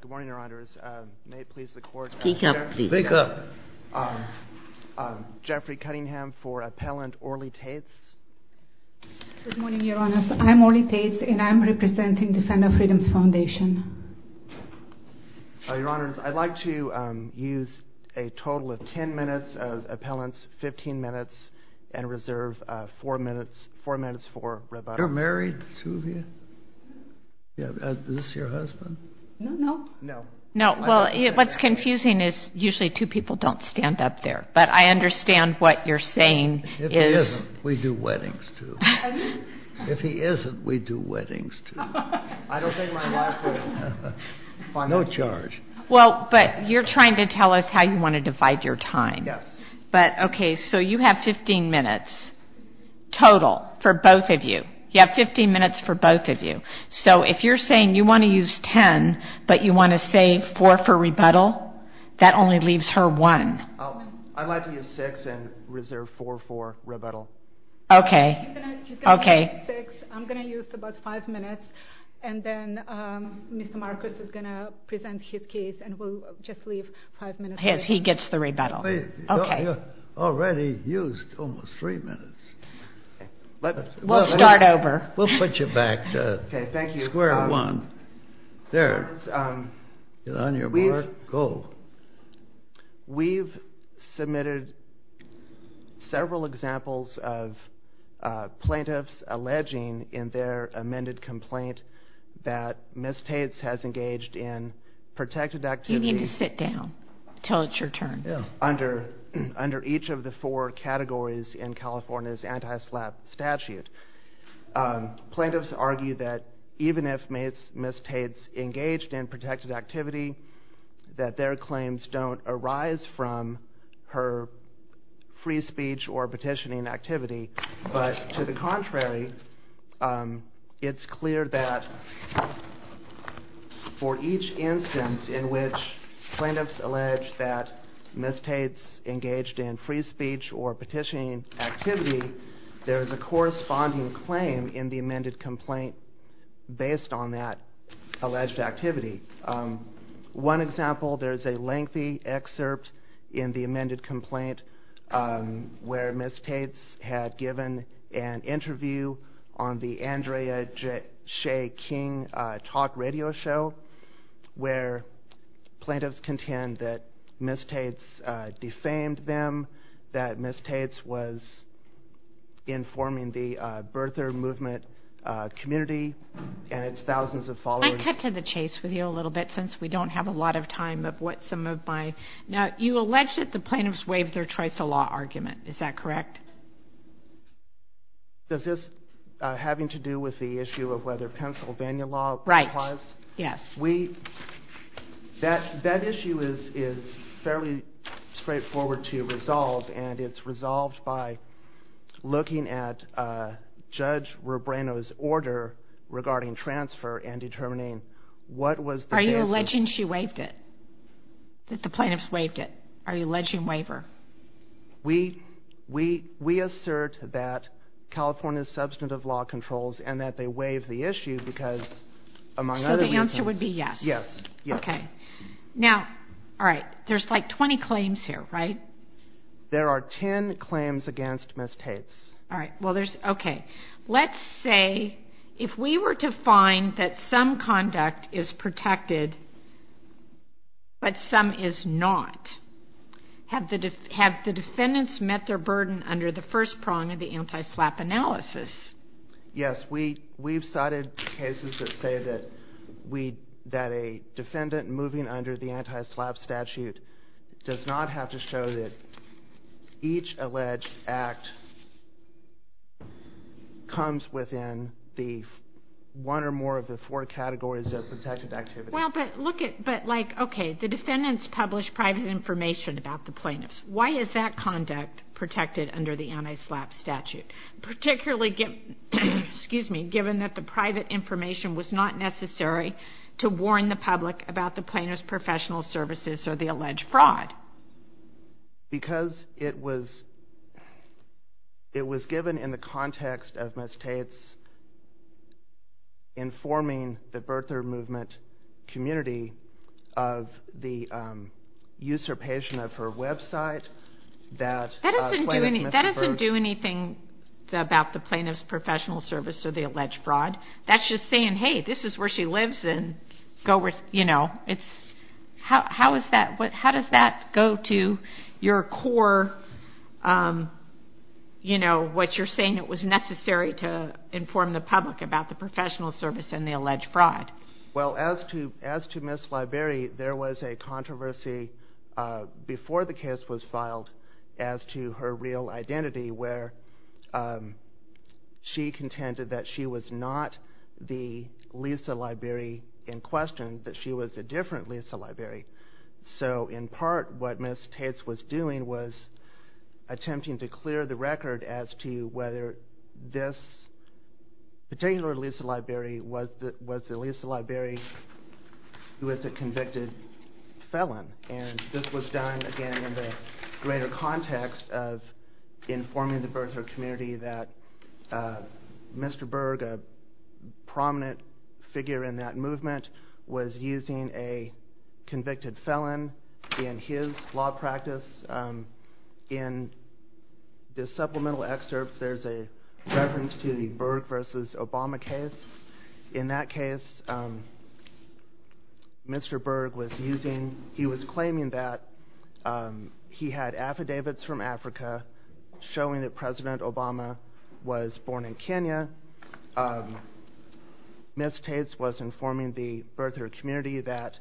Good morning, Your Honors. I'm Orly Taitz, and I'm representing Defender Freedoms Foundation. Your Honors, I'd like to use a total of 10 minutes of appellants, 15 minutes, and reserve 4 minutes for rebuttal. You're married, the two of you? Is this your husband? No. No. No. Well, what's confusing is usually two people don't stand up there, but I understand what you're saying is... If he isn't, we do weddings, too. If he isn't, we do weddings, too. I don't think my wife would... No charge. Well, but you're trying to tell us how you want to divide your time. Yes. But, okay, so you have 15 minutes total for both of you. You have 15 minutes for both of you. So if you're saying you want to use 10, but you want to save 4 for rebuttal, that only leaves her 1. I'd like to use 6 and reserve 4 for rebuttal. Okay. Okay. I'm going to use about 5 minutes, and then Mr. Marcus is going to present his case, and we'll just leave 5 minutes. He gets the rebuttal. You already used almost 3 minutes. We'll start over. We'll put you back to square one. Okay, thank you. There. Get on your mark, go. We've submitted several examples of plaintiffs alleging in their amended complaint that Ms. Tates has engaged in protected activities... You need to sit down until it's your turn. ...under each of the four categories in California's anti-slap statute. Plaintiffs argue that even if Ms. Tates engaged in protected activity, that their claims don't arise from her free speech or petitioning activity. But to the contrary, it's clear that for each instance in which plaintiffs allege that Ms. Tates engaged in free speech or petitioning activity, there is a corresponding claim in the amended complaint based on that alleged activity. One example, there's a lengthy excerpt in the amended complaint where Ms. Tates had given an interview on the Andrea Shea King talk radio show where plaintiffs contend that Ms. Tates defamed them, that Ms. Tates was informing the birther movement community and its thousands of followers. Can I cut to the chase with you a little bit since we don't have a lot of time of what some of my... Now, you allege that the plaintiffs waived their choice of law argument. Is that correct? Is this having to do with the issue of whether Pennsylvania law was? Right. Yes. That issue is fairly straightforward to resolve and it's resolved by looking at Judge Rubreno's order regarding transfer and determining what was the case... Are you alleging she waived it? That the plaintiffs waived it? Are you alleging waiver? We assert that California is substantive law controls and that they waived the issue because among other reasons... So the answer would be yes? Yes. Okay. Now, all right, there's like 20 claims here, right? There are 10 claims against Ms. Tates. All right. Well, there's... Okay. Let's say if we were to find that some conduct is protected but some is not, have the defendants met their burden under the first prong of the anti-SLAPP analysis? Yes. We've cited cases that say that a defendant moving under the anti-SLAPP statute does not have to show that each alleged act comes within the one or more of the four categories of protected activity. Well, but look at... But like, okay, the defendants published private information about the plaintiffs. Why is that conduct protected under the anti-SLAPP statute, particularly given that the private information was not necessary to warn the public about the plaintiff's professional services or the alleged fraud? Because it was given in the context of Ms. Tates informing the birther movement community of the usurpation of her website that... That doesn't do anything about the plaintiff's professional service or the alleged fraud. That's just saying, hey, this is where she lives and go with, you know, it's... How is that... How does that go to your core, you know, what you're saying it was necessary to inform the public about the professional service and the alleged fraud? Well, as to Ms. Liberi, there was a controversy before the case was filed as to her real identity where she contended that she was not the Lisa Liberi in question, that she was a different Lisa Liberi. So, in part, what Ms. Tates was doing was attempting to clear the record as to whether this particular Lisa Liberi was the Lisa Liberi who was a convicted felon. And this was done, again, in the greater context of informing the birther community that Mr. Berg, a prominent figure in that movement, was using a convicted felon in his law practice. In the supplemental excerpts, there's a reference to the Berg versus Obama case. In that case, Mr. Berg was using... He was claiming that he had affidavits from Africa showing that President Obama was born in Kenya. Ms. Tates was informing the birther community that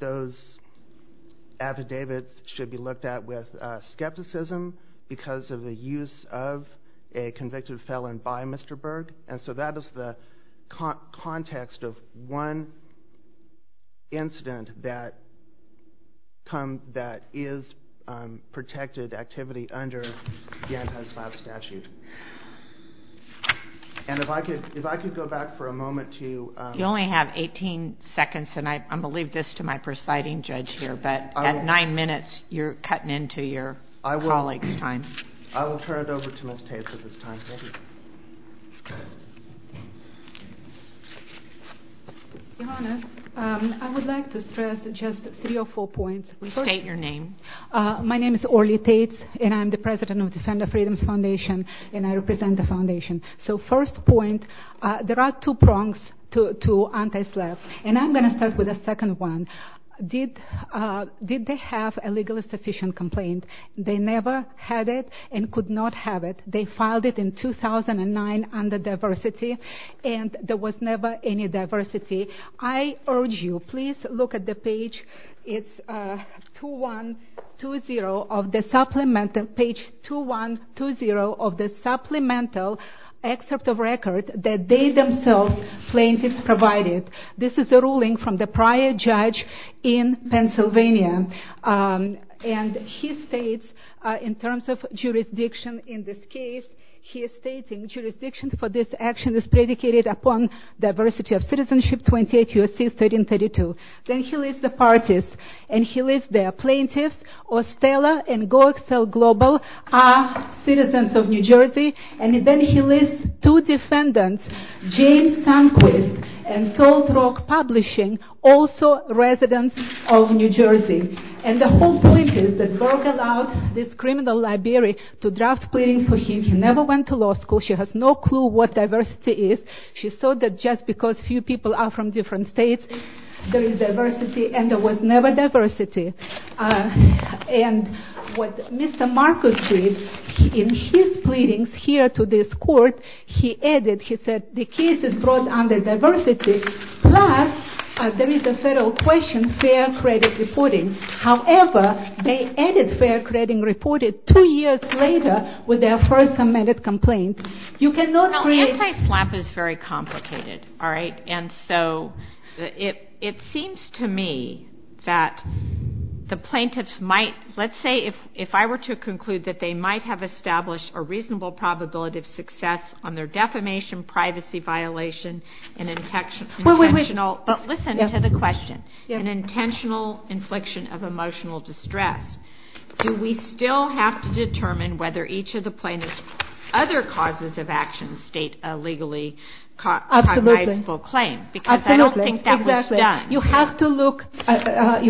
those affidavits should be looked at with skepticism because of the use of a convicted felon by Mr. Berg. And so that is the context of one incident that is protected activity under the anti-slap statute. And if I could go back for a moment to... You only have 18 seconds, and I'm going to leave this to my presiding judge here, but at nine minutes, you're cutting into your colleague's time. I will turn it over to Ms. Tates at this time. Your Honor, I would like to stress just three or four points. State your name. My name is Orly Tates, and I'm the president of Defender Freedom Foundation, and I represent the foundation. So first point, there are two prongs to anti-slap, and I'm going to start with the second one. Did they have a legally sufficient complaint? They never had it and could not have it. They filed it in 2009 under diversity, and there was never any diversity. I urge you, please look at the page 2120 of the supplemental excerpt of record that they themselves, plaintiffs, provided. This is a ruling from the prior judge in Pennsylvania. And he states, in terms of jurisdiction in this case, he is stating, jurisdiction for this action is predicated upon diversity of citizenship 28 U.S.C. 1332. Then he lists the parties, and he lists the plaintiffs, Ostella and Go Excel Global are citizens of New Jersey, and then he lists two defendants, James Sundquist and Salt Rock Publishing, also residents of New Jersey. And the whole point is that Berger allowed this criminal library to draft pleadings for him. She never went to law school. She has no clue what diversity is. She saw that just because few people are from different states, there is diversity, and there was never diversity. And what Mr. Marcus did in his pleadings here to this court, he added, he said, the case is brought under diversity, plus there is a federal question, fair credit reporting. However, they added fair credit reporting two years later with their first amended complaint. Now, anti-SLAPP is very complicated, all right? And so it seems to me that the plaintiffs might, let's say if I were to conclude that they might have established a reasonable probability of success on their defamation, privacy violation, and intentional, but listen to the question, an intentional infliction of emotional distress. Do we still have to determine whether each of the plaintiffs' other causes of action state a legally cognizable claim? Absolutely. Because I don't think that was done. You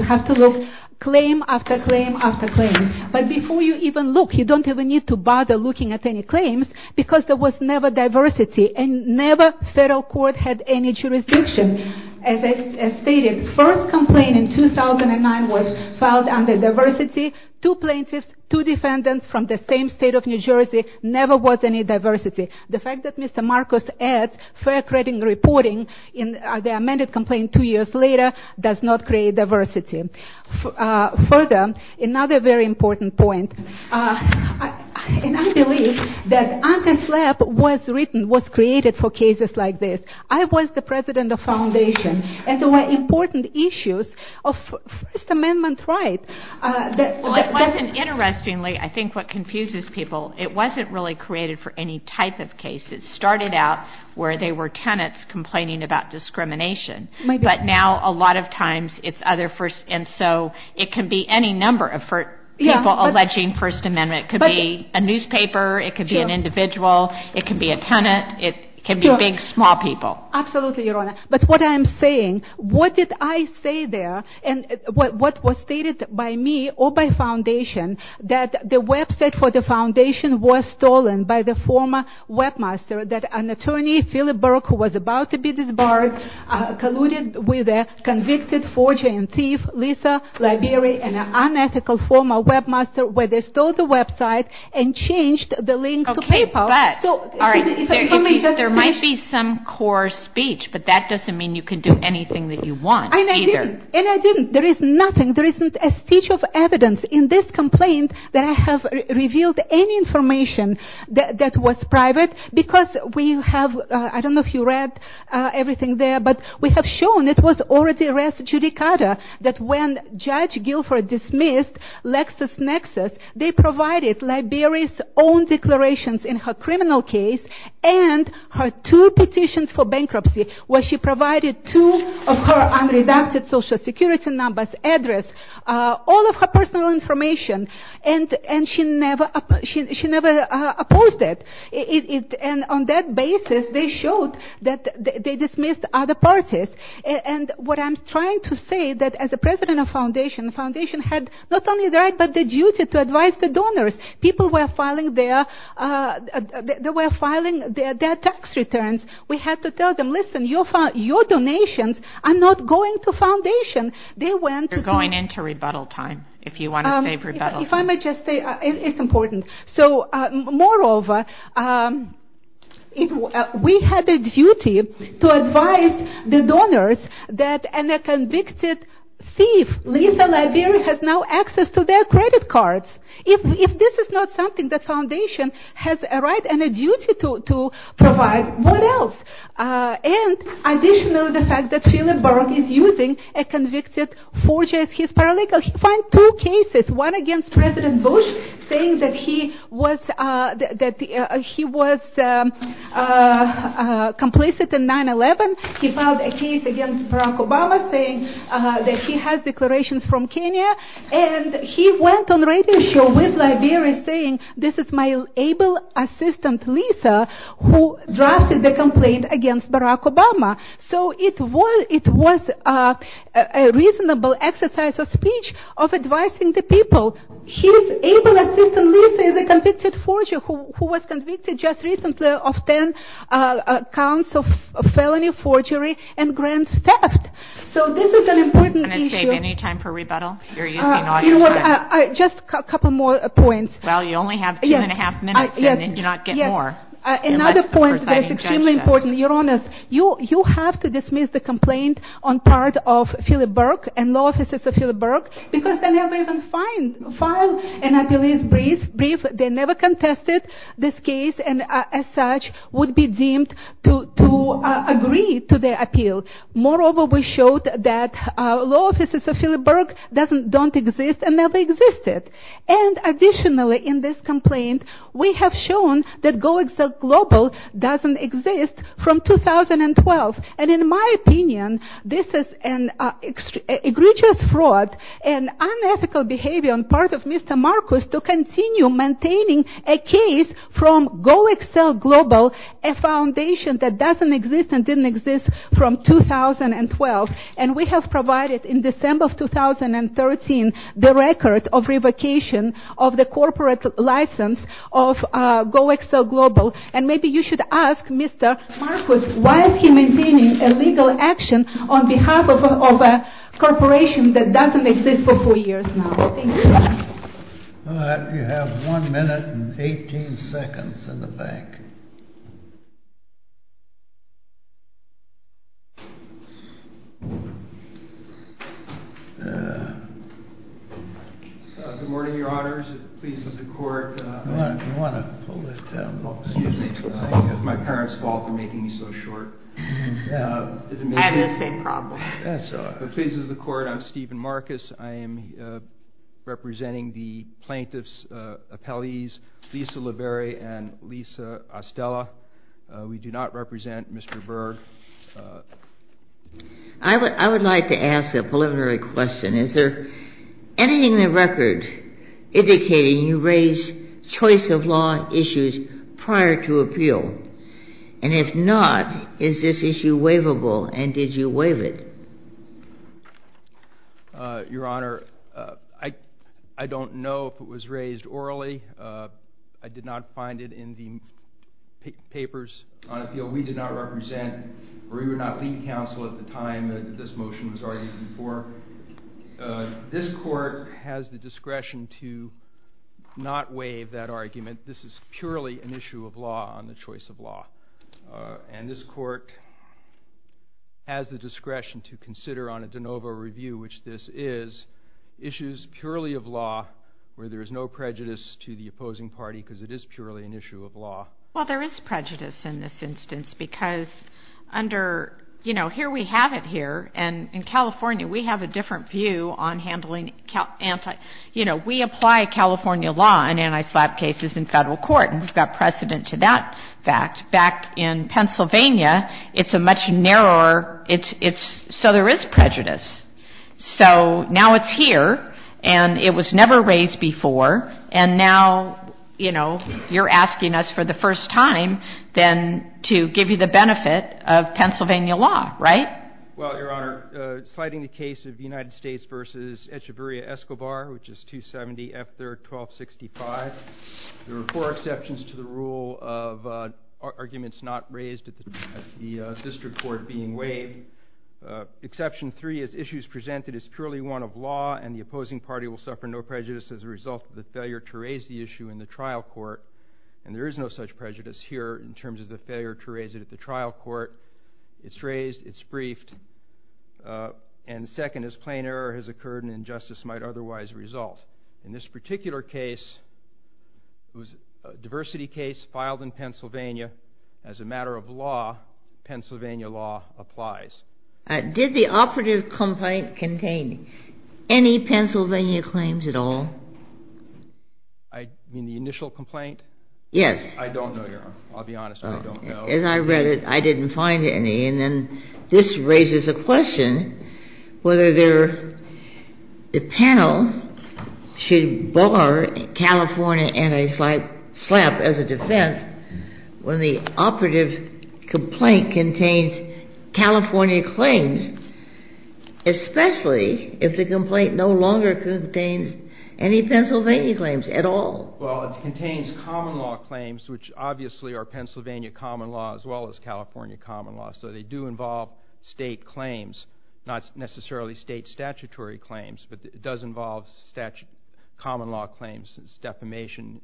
have to look claim after claim after claim. But before you even look, you don't even need to bother looking at any claims, because there was never diversity, and never federal court had any jurisdiction. As I stated, first complaint in 2009 was filed under diversity. Two plaintiffs, two defendants from the same state of New Jersey, never was any diversity. The fact that Mr. Marcus adds fair credit reporting in the amended complaint two years later does not create diversity. Further, another very important point, and I believe that anti-SLAPP was written, was created for cases like this. I was the president of foundation, and there were important issues of First Amendment right. Well, it wasn't, interestingly, I think what confuses people, it wasn't really created for any type of case. It started out where there were tenants complaining about discrimination, but now a lot of times it's other, and so it can be any number of people alleging First Amendment. It could be a newspaper, it could be an individual, it could be a tenant, it could be big, small people. Absolutely, Your Honor. But what I'm saying, what did I say there, and what was stated by me or by foundation, that the website for the foundation was stolen by the former webmaster, and the website for the foundation was stolen by the former webmaster. That an attorney, Phillip Burke, who was about to be disbarred, colluded with a convicted forger and thief, Lisa Liberi, an unethical former webmaster, where they stole the website and changed the link to PayPal. Okay, but, alright, there might be some core speech, but that doesn't mean you can do anything that you want, either. And I didn't, and I didn't, there is nothing, there isn't a stitch of evidence in this complaint that I have revealed any information that was private, because we have, I don't know if you read everything there, but we have shown, it was already arrested, Judicata, that when Judge Guilford dismissed LexisNexis, they provided Liberi's own declarations in her criminal case, and her two petitions for bankruptcy, where she provided two of her unredacted social security numbers, address, all of her personal information, and she never opposed it. And on that basis, they showed that they dismissed other parties. And what I'm trying to say, that as a president of foundation, the foundation had not only the right, but the duty to advise the donors. People were filing their, they were filing their tax returns. We had to tell them, listen, your donations are not going to foundation. They went to... It's important. So, moreover, we had a duty to advise the donors that a convicted thief, Lisa Liberi, has now access to their credit cards. If this is not something that foundation has a right and a duty to provide, what else? And additionally, the fact that Philip Burke is using a convicted forger as his paralegal. He filed two cases, one against President Bush, saying that he was complicit in 9-11. He filed a case against Barack Obama, saying that he has declarations from Kenya. And he went on radio show with Liberi, saying, this is my able assistant, Lisa, who drafted the complaint against Barack Obama. So it was a reasonable exercise of speech of advising the people. His able assistant, Lisa, is a convicted forger who was convicted just recently of 10 counts of felony forgery and grand theft. So this is an important issue. Just a couple more points. Well, you only have two and a half minutes in, and you're not getting more. Another point that's extremely important. Your Honor, you have to dismiss the complaint on part of Philip Burke and law officers of Philip Burke, because they never even filed an appeal. They never contested this case and, as such, would be deemed to agree to the appeal. Moreover, we showed that law officers of Philip Burke don't exist and never existed. And additionally, in this complaint, we have shown that Go Excel Global doesn't exist from 2012. And in my opinion, this is an egregious fraud and unethical behavior on part of Mr. Marcus to continue maintaining a case from Go Excel Global, a foundation that doesn't exist and didn't exist from 2012. And we have provided, in December of 2013, the record of revocation of the corporate license of Go Excel Global. And maybe you should ask Mr. Marcus, why is he maintaining a legal action on behalf of a corporation that doesn't exist for four years now? Thank you. Good morning, Your Honors. It pleases the Court. My parents' fault for making me so short. I had the same problem. It pleases the Court. I'm Stephen Marcus. I am representing the plaintiffs' appellees, Lisa LaBerry and Lisa Ostella. We do not represent Mr. Burke. I would like to ask a preliminary question. Is there anything in the record indicating you raised choice-of-law issues prior to appeal? And if not, is this issue waivable and did you waive it? Your Honor, I don't know if it was raised orally. I did not find it in the papers on appeal. We did not represent or we would not lead counsel at the time that this motion was argued before. This Court has the discretion to not waive that argument. This is purely an issue of law on the choice of law. And this Court has the discretion to consider on a de novo review, which this is, issues purely of law where there is no prejudice to the opposing party because it is purely an issue of law. Well, there is prejudice in this instance because under, you know, here we have it here. And in California, we have a different view on handling, you know, we apply California law in anti-slap cases in Federal court. And we've got precedent to that fact. Back in Pennsylvania, it's a much narrower, it's, so there is prejudice. So now it's here and it was never raised before and now, you know, you're asking us for the first time then to give you the benefit of Pennsylvania law, right? Well, Your Honor, citing the case of the United States versus Echeverria-Escobar, which is 270 F 3rd 1265, there were four exceptions to the rule of arguments not raised at the District Court being waived. Exception three is issues presented as purely one of law and the opposing party will suffer no prejudice as a result of the failure to raise the issue in the trial court. And there is no such prejudice here in terms of the failure to raise it at the trial court. It's raised, it's briefed. And second is plain error has occurred and injustice might otherwise result. In this particular case, it was a diversity case filed in Pennsylvania. As a matter of law, Pennsylvania law applies. Did the operative complaint contain any Pennsylvania claims at all? I mean, the initial complaint? Yes. I don't know, Your Honor. I'll be honest with you. I don't know. As I read it, I didn't find any. And then this raises a question whether the panel should bar California and a slight slap as a defense when the operative complaint contains California claims, especially if the complaint no longer contains any Pennsylvania claims at all. Well, it contains common law claims, which obviously are Pennsylvania common law as well as California common law. So they do involve state claims, not necessarily state statutory claims. But it does involve common law claims, defamation,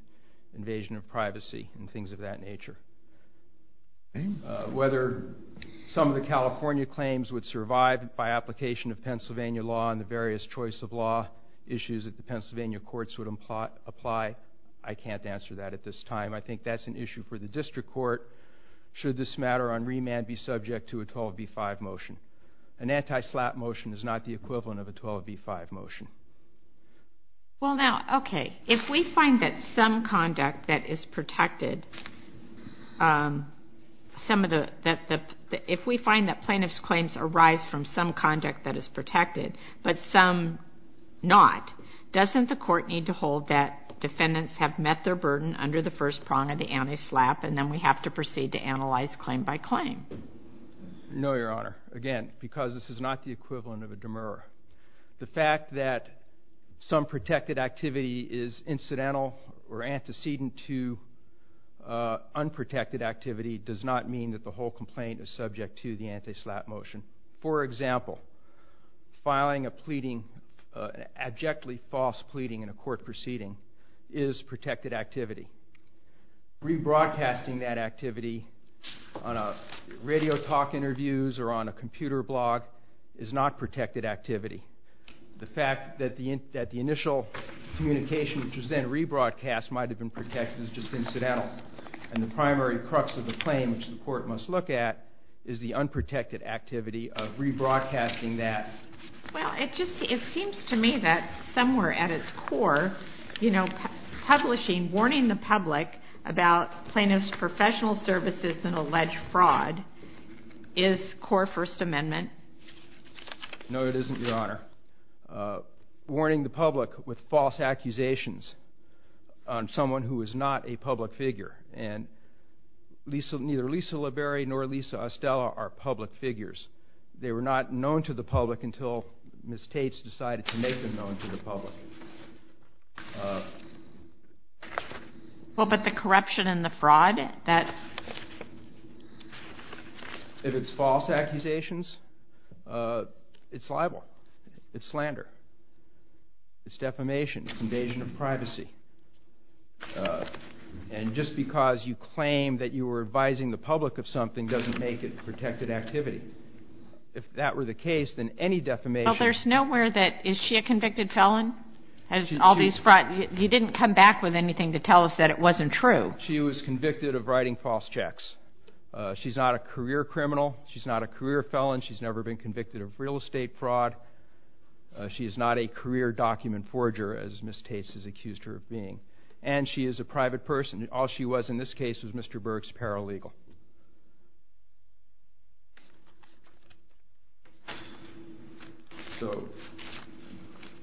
invasion of privacy, and things of that nature. Whether some of the California claims would survive by application of Pennsylvania law and the various choice of law issues that the Pennsylvania courts would apply, I can't answer that at this time. I think that's an issue for the district court. Should this matter on remand be subject to a 12b-5 motion? An anti-slap motion is not the equivalent of a 12b-5 motion. Well, now, okay, if we find that some conduct that is protected, if we find that plaintiff's claims arise from some conduct that is protected, but some not, doesn't the court need to hold that defendants have met their burden under the first prong of the anti-slap and then we have to proceed to analyze claim by claim? No, Your Honor. Again, because this is not the equivalent of a demurra. The fact that some protected activity is incidental or antecedent to unprotected activity does not mean that the whole complaint is subject to the anti-slap motion. For example, filing an abjectly false pleading in a court proceeding is protected activity. Rebroadcasting that activity on radio talk interviews or on a computer blog is not protected activity. The fact that the initial communication, which was then rebroadcast, might have been protected is just incidental. And the primary crux of the claim, which the court must look at, is the unprotected activity of rebroadcasting that. Well, it seems to me that somewhere at its core, you know, publishing, warning the public about plaintiff's professional services and alleged fraud is core First Amendment. No, it isn't, Your Honor. Warning the public with false accusations on someone who is not a public figure. And neither Lisa Liberi nor Lisa Ostella are public figures. They were not known to the public until Ms. Tate decided to make them known to the public. Well, but the corruption and the fraud, that... If it's false accusations, it's libel. It's slander. It's defamation. It's invasion of privacy. And just because you claim that you were advising the public of something doesn't make it protected activity. If that were the case, then any defamation... Well, there's nowhere that... Is she a convicted felon? Has all these fraud... You didn't come back with anything to tell us that it wasn't true. She was convicted of writing false checks. She's not a career criminal. She's not a career felon. She's never been convicted of real estate fraud. She is not a career document forger, as Ms. Tate has accused her of being. And she is a private person. All she was in this case was Mr. Berg's paralegal. So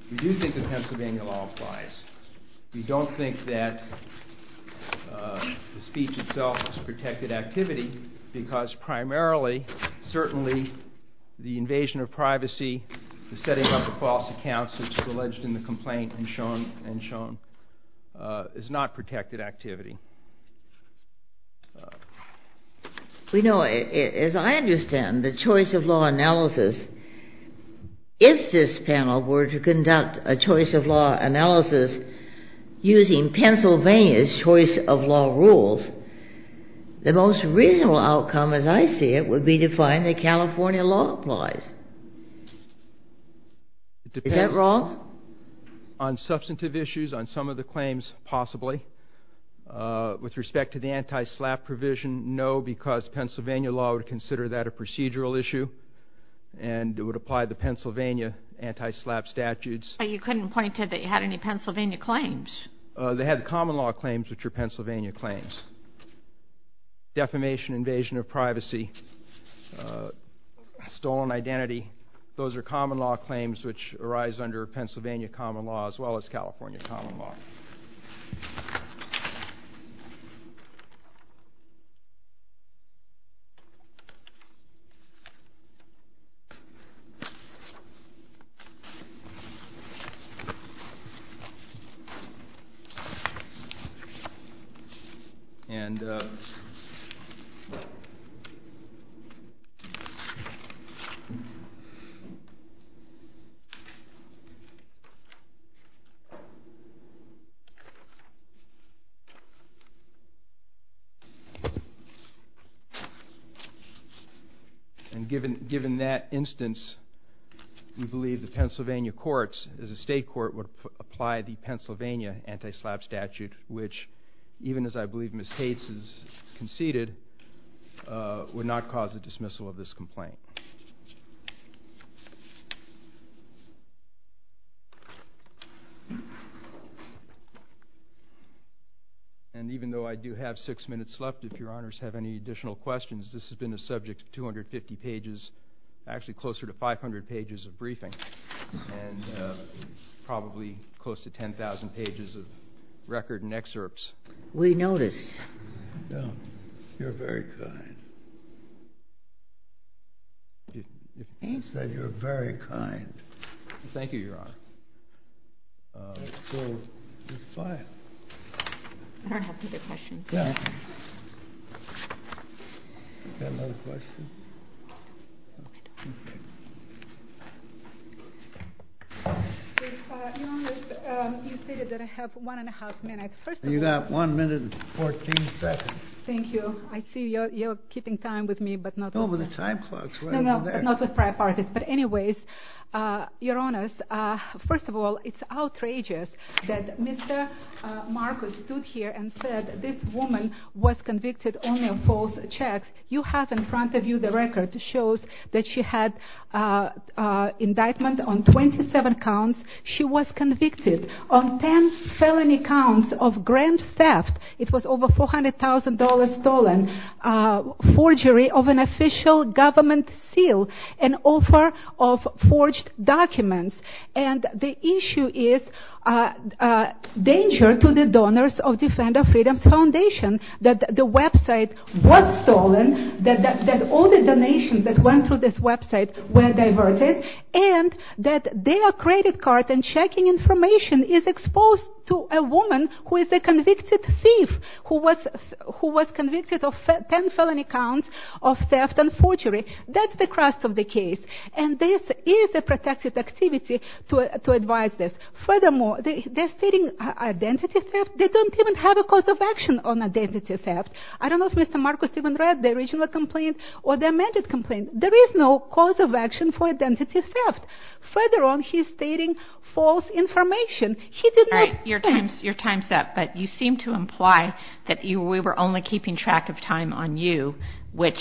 we do think that Pennsylvania law applies. We don't think that the speech itself is protected activity because primarily, certainly, the invasion of privacy, the setting up of false accounts, which is alleged in the complaint and shown, is not protected activity. You know, as I understand the choice of law analysis, if this panel were to conduct a choice of law analysis using Pennsylvania's choice of law rules, the most reasonable outcome, as I see it, would be to find that California law applies. Is that wrong? On substantive issues, on some of the claims, possibly. With respect to the anti-SLAPP provision, no, because Pennsylvania law would consider that a procedural issue and it would apply the Pennsylvania anti-SLAPP statutes. But you couldn't point to that you had any Pennsylvania claims. They had common law claims, which are Pennsylvania claims. Defamation, invasion of privacy, stolen identity, those are common law claims which arise under Pennsylvania common law as well as California common law. And... And given that instance, we believe the Pennsylvania courts, as a state court, would apply the Pennsylvania anti-SLAPP statute, which, even as I believe Ms. Tate has conceded, would not cause the dismissal of this complaint. And even though I do have six minutes left, if your honors have any additional questions, this has been a subject of 250 pages, actually closer to 500 pages of briefing. And probably close to 10,000 pages of record and excerpts. We notice. You're very kind. You said you're very kind. Thank you, Your Honor. So, it's fine. I don't have any other questions. You've got another question? No, I don't. Okay. Your Honor, you stated that I have one and a half minutes. You've got one minute and 14 seconds. Thank you. I see you're keeping time with me, but not... No, but the time clock is right over there. No, no, but not with prior parties. But anyways, Your Honors, first of all, it's outrageous that Mr. Marcus stood here and said this woman was convicted only of false checks. You have in front of you the record that shows that she had indictment on 27 counts. She was convicted of 10 felony counts of grand theft. It was over $400,000 stolen. Forgery of an official government seal. An offer of forged documents. And the issue is danger to the donors of Defender Freedom Foundation that the website was stolen, that all the donations that went through this website were diverted, and that their credit card and checking information is exposed to a woman who is a convicted thief, who was convicted of 10 felony counts of theft and forgery. That's the crux of the case. And this is a protective activity to advise this. Furthermore, they're stating identity theft. They don't even have a cause of action on identity theft. I don't know if Mr. Marcus even read the original complaint or the amended complaint. There is no cause of action for identity theft. Further on, he's stating false information. He did not... All right, your time's up. But you seem to imply that we were only keeping track of time on you, which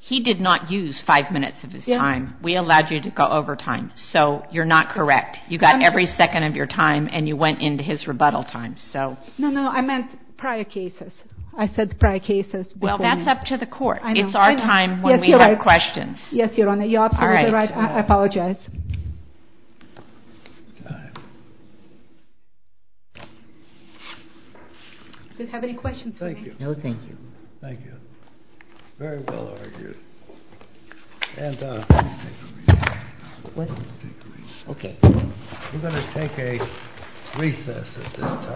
he did not use five minutes of his time. We allowed you to go over time. So you're not correct. You got every second of your time, and you went into his rebuttal time. No, no, I meant prior cases. I said prior cases. Well, that's up to the court. It's our time when we have questions. Yes, Your Honor. You're absolutely right. I apologize. Do you have any questions for me? No, thank you. Thank you. Very well argued. We're going to take a recess at this time.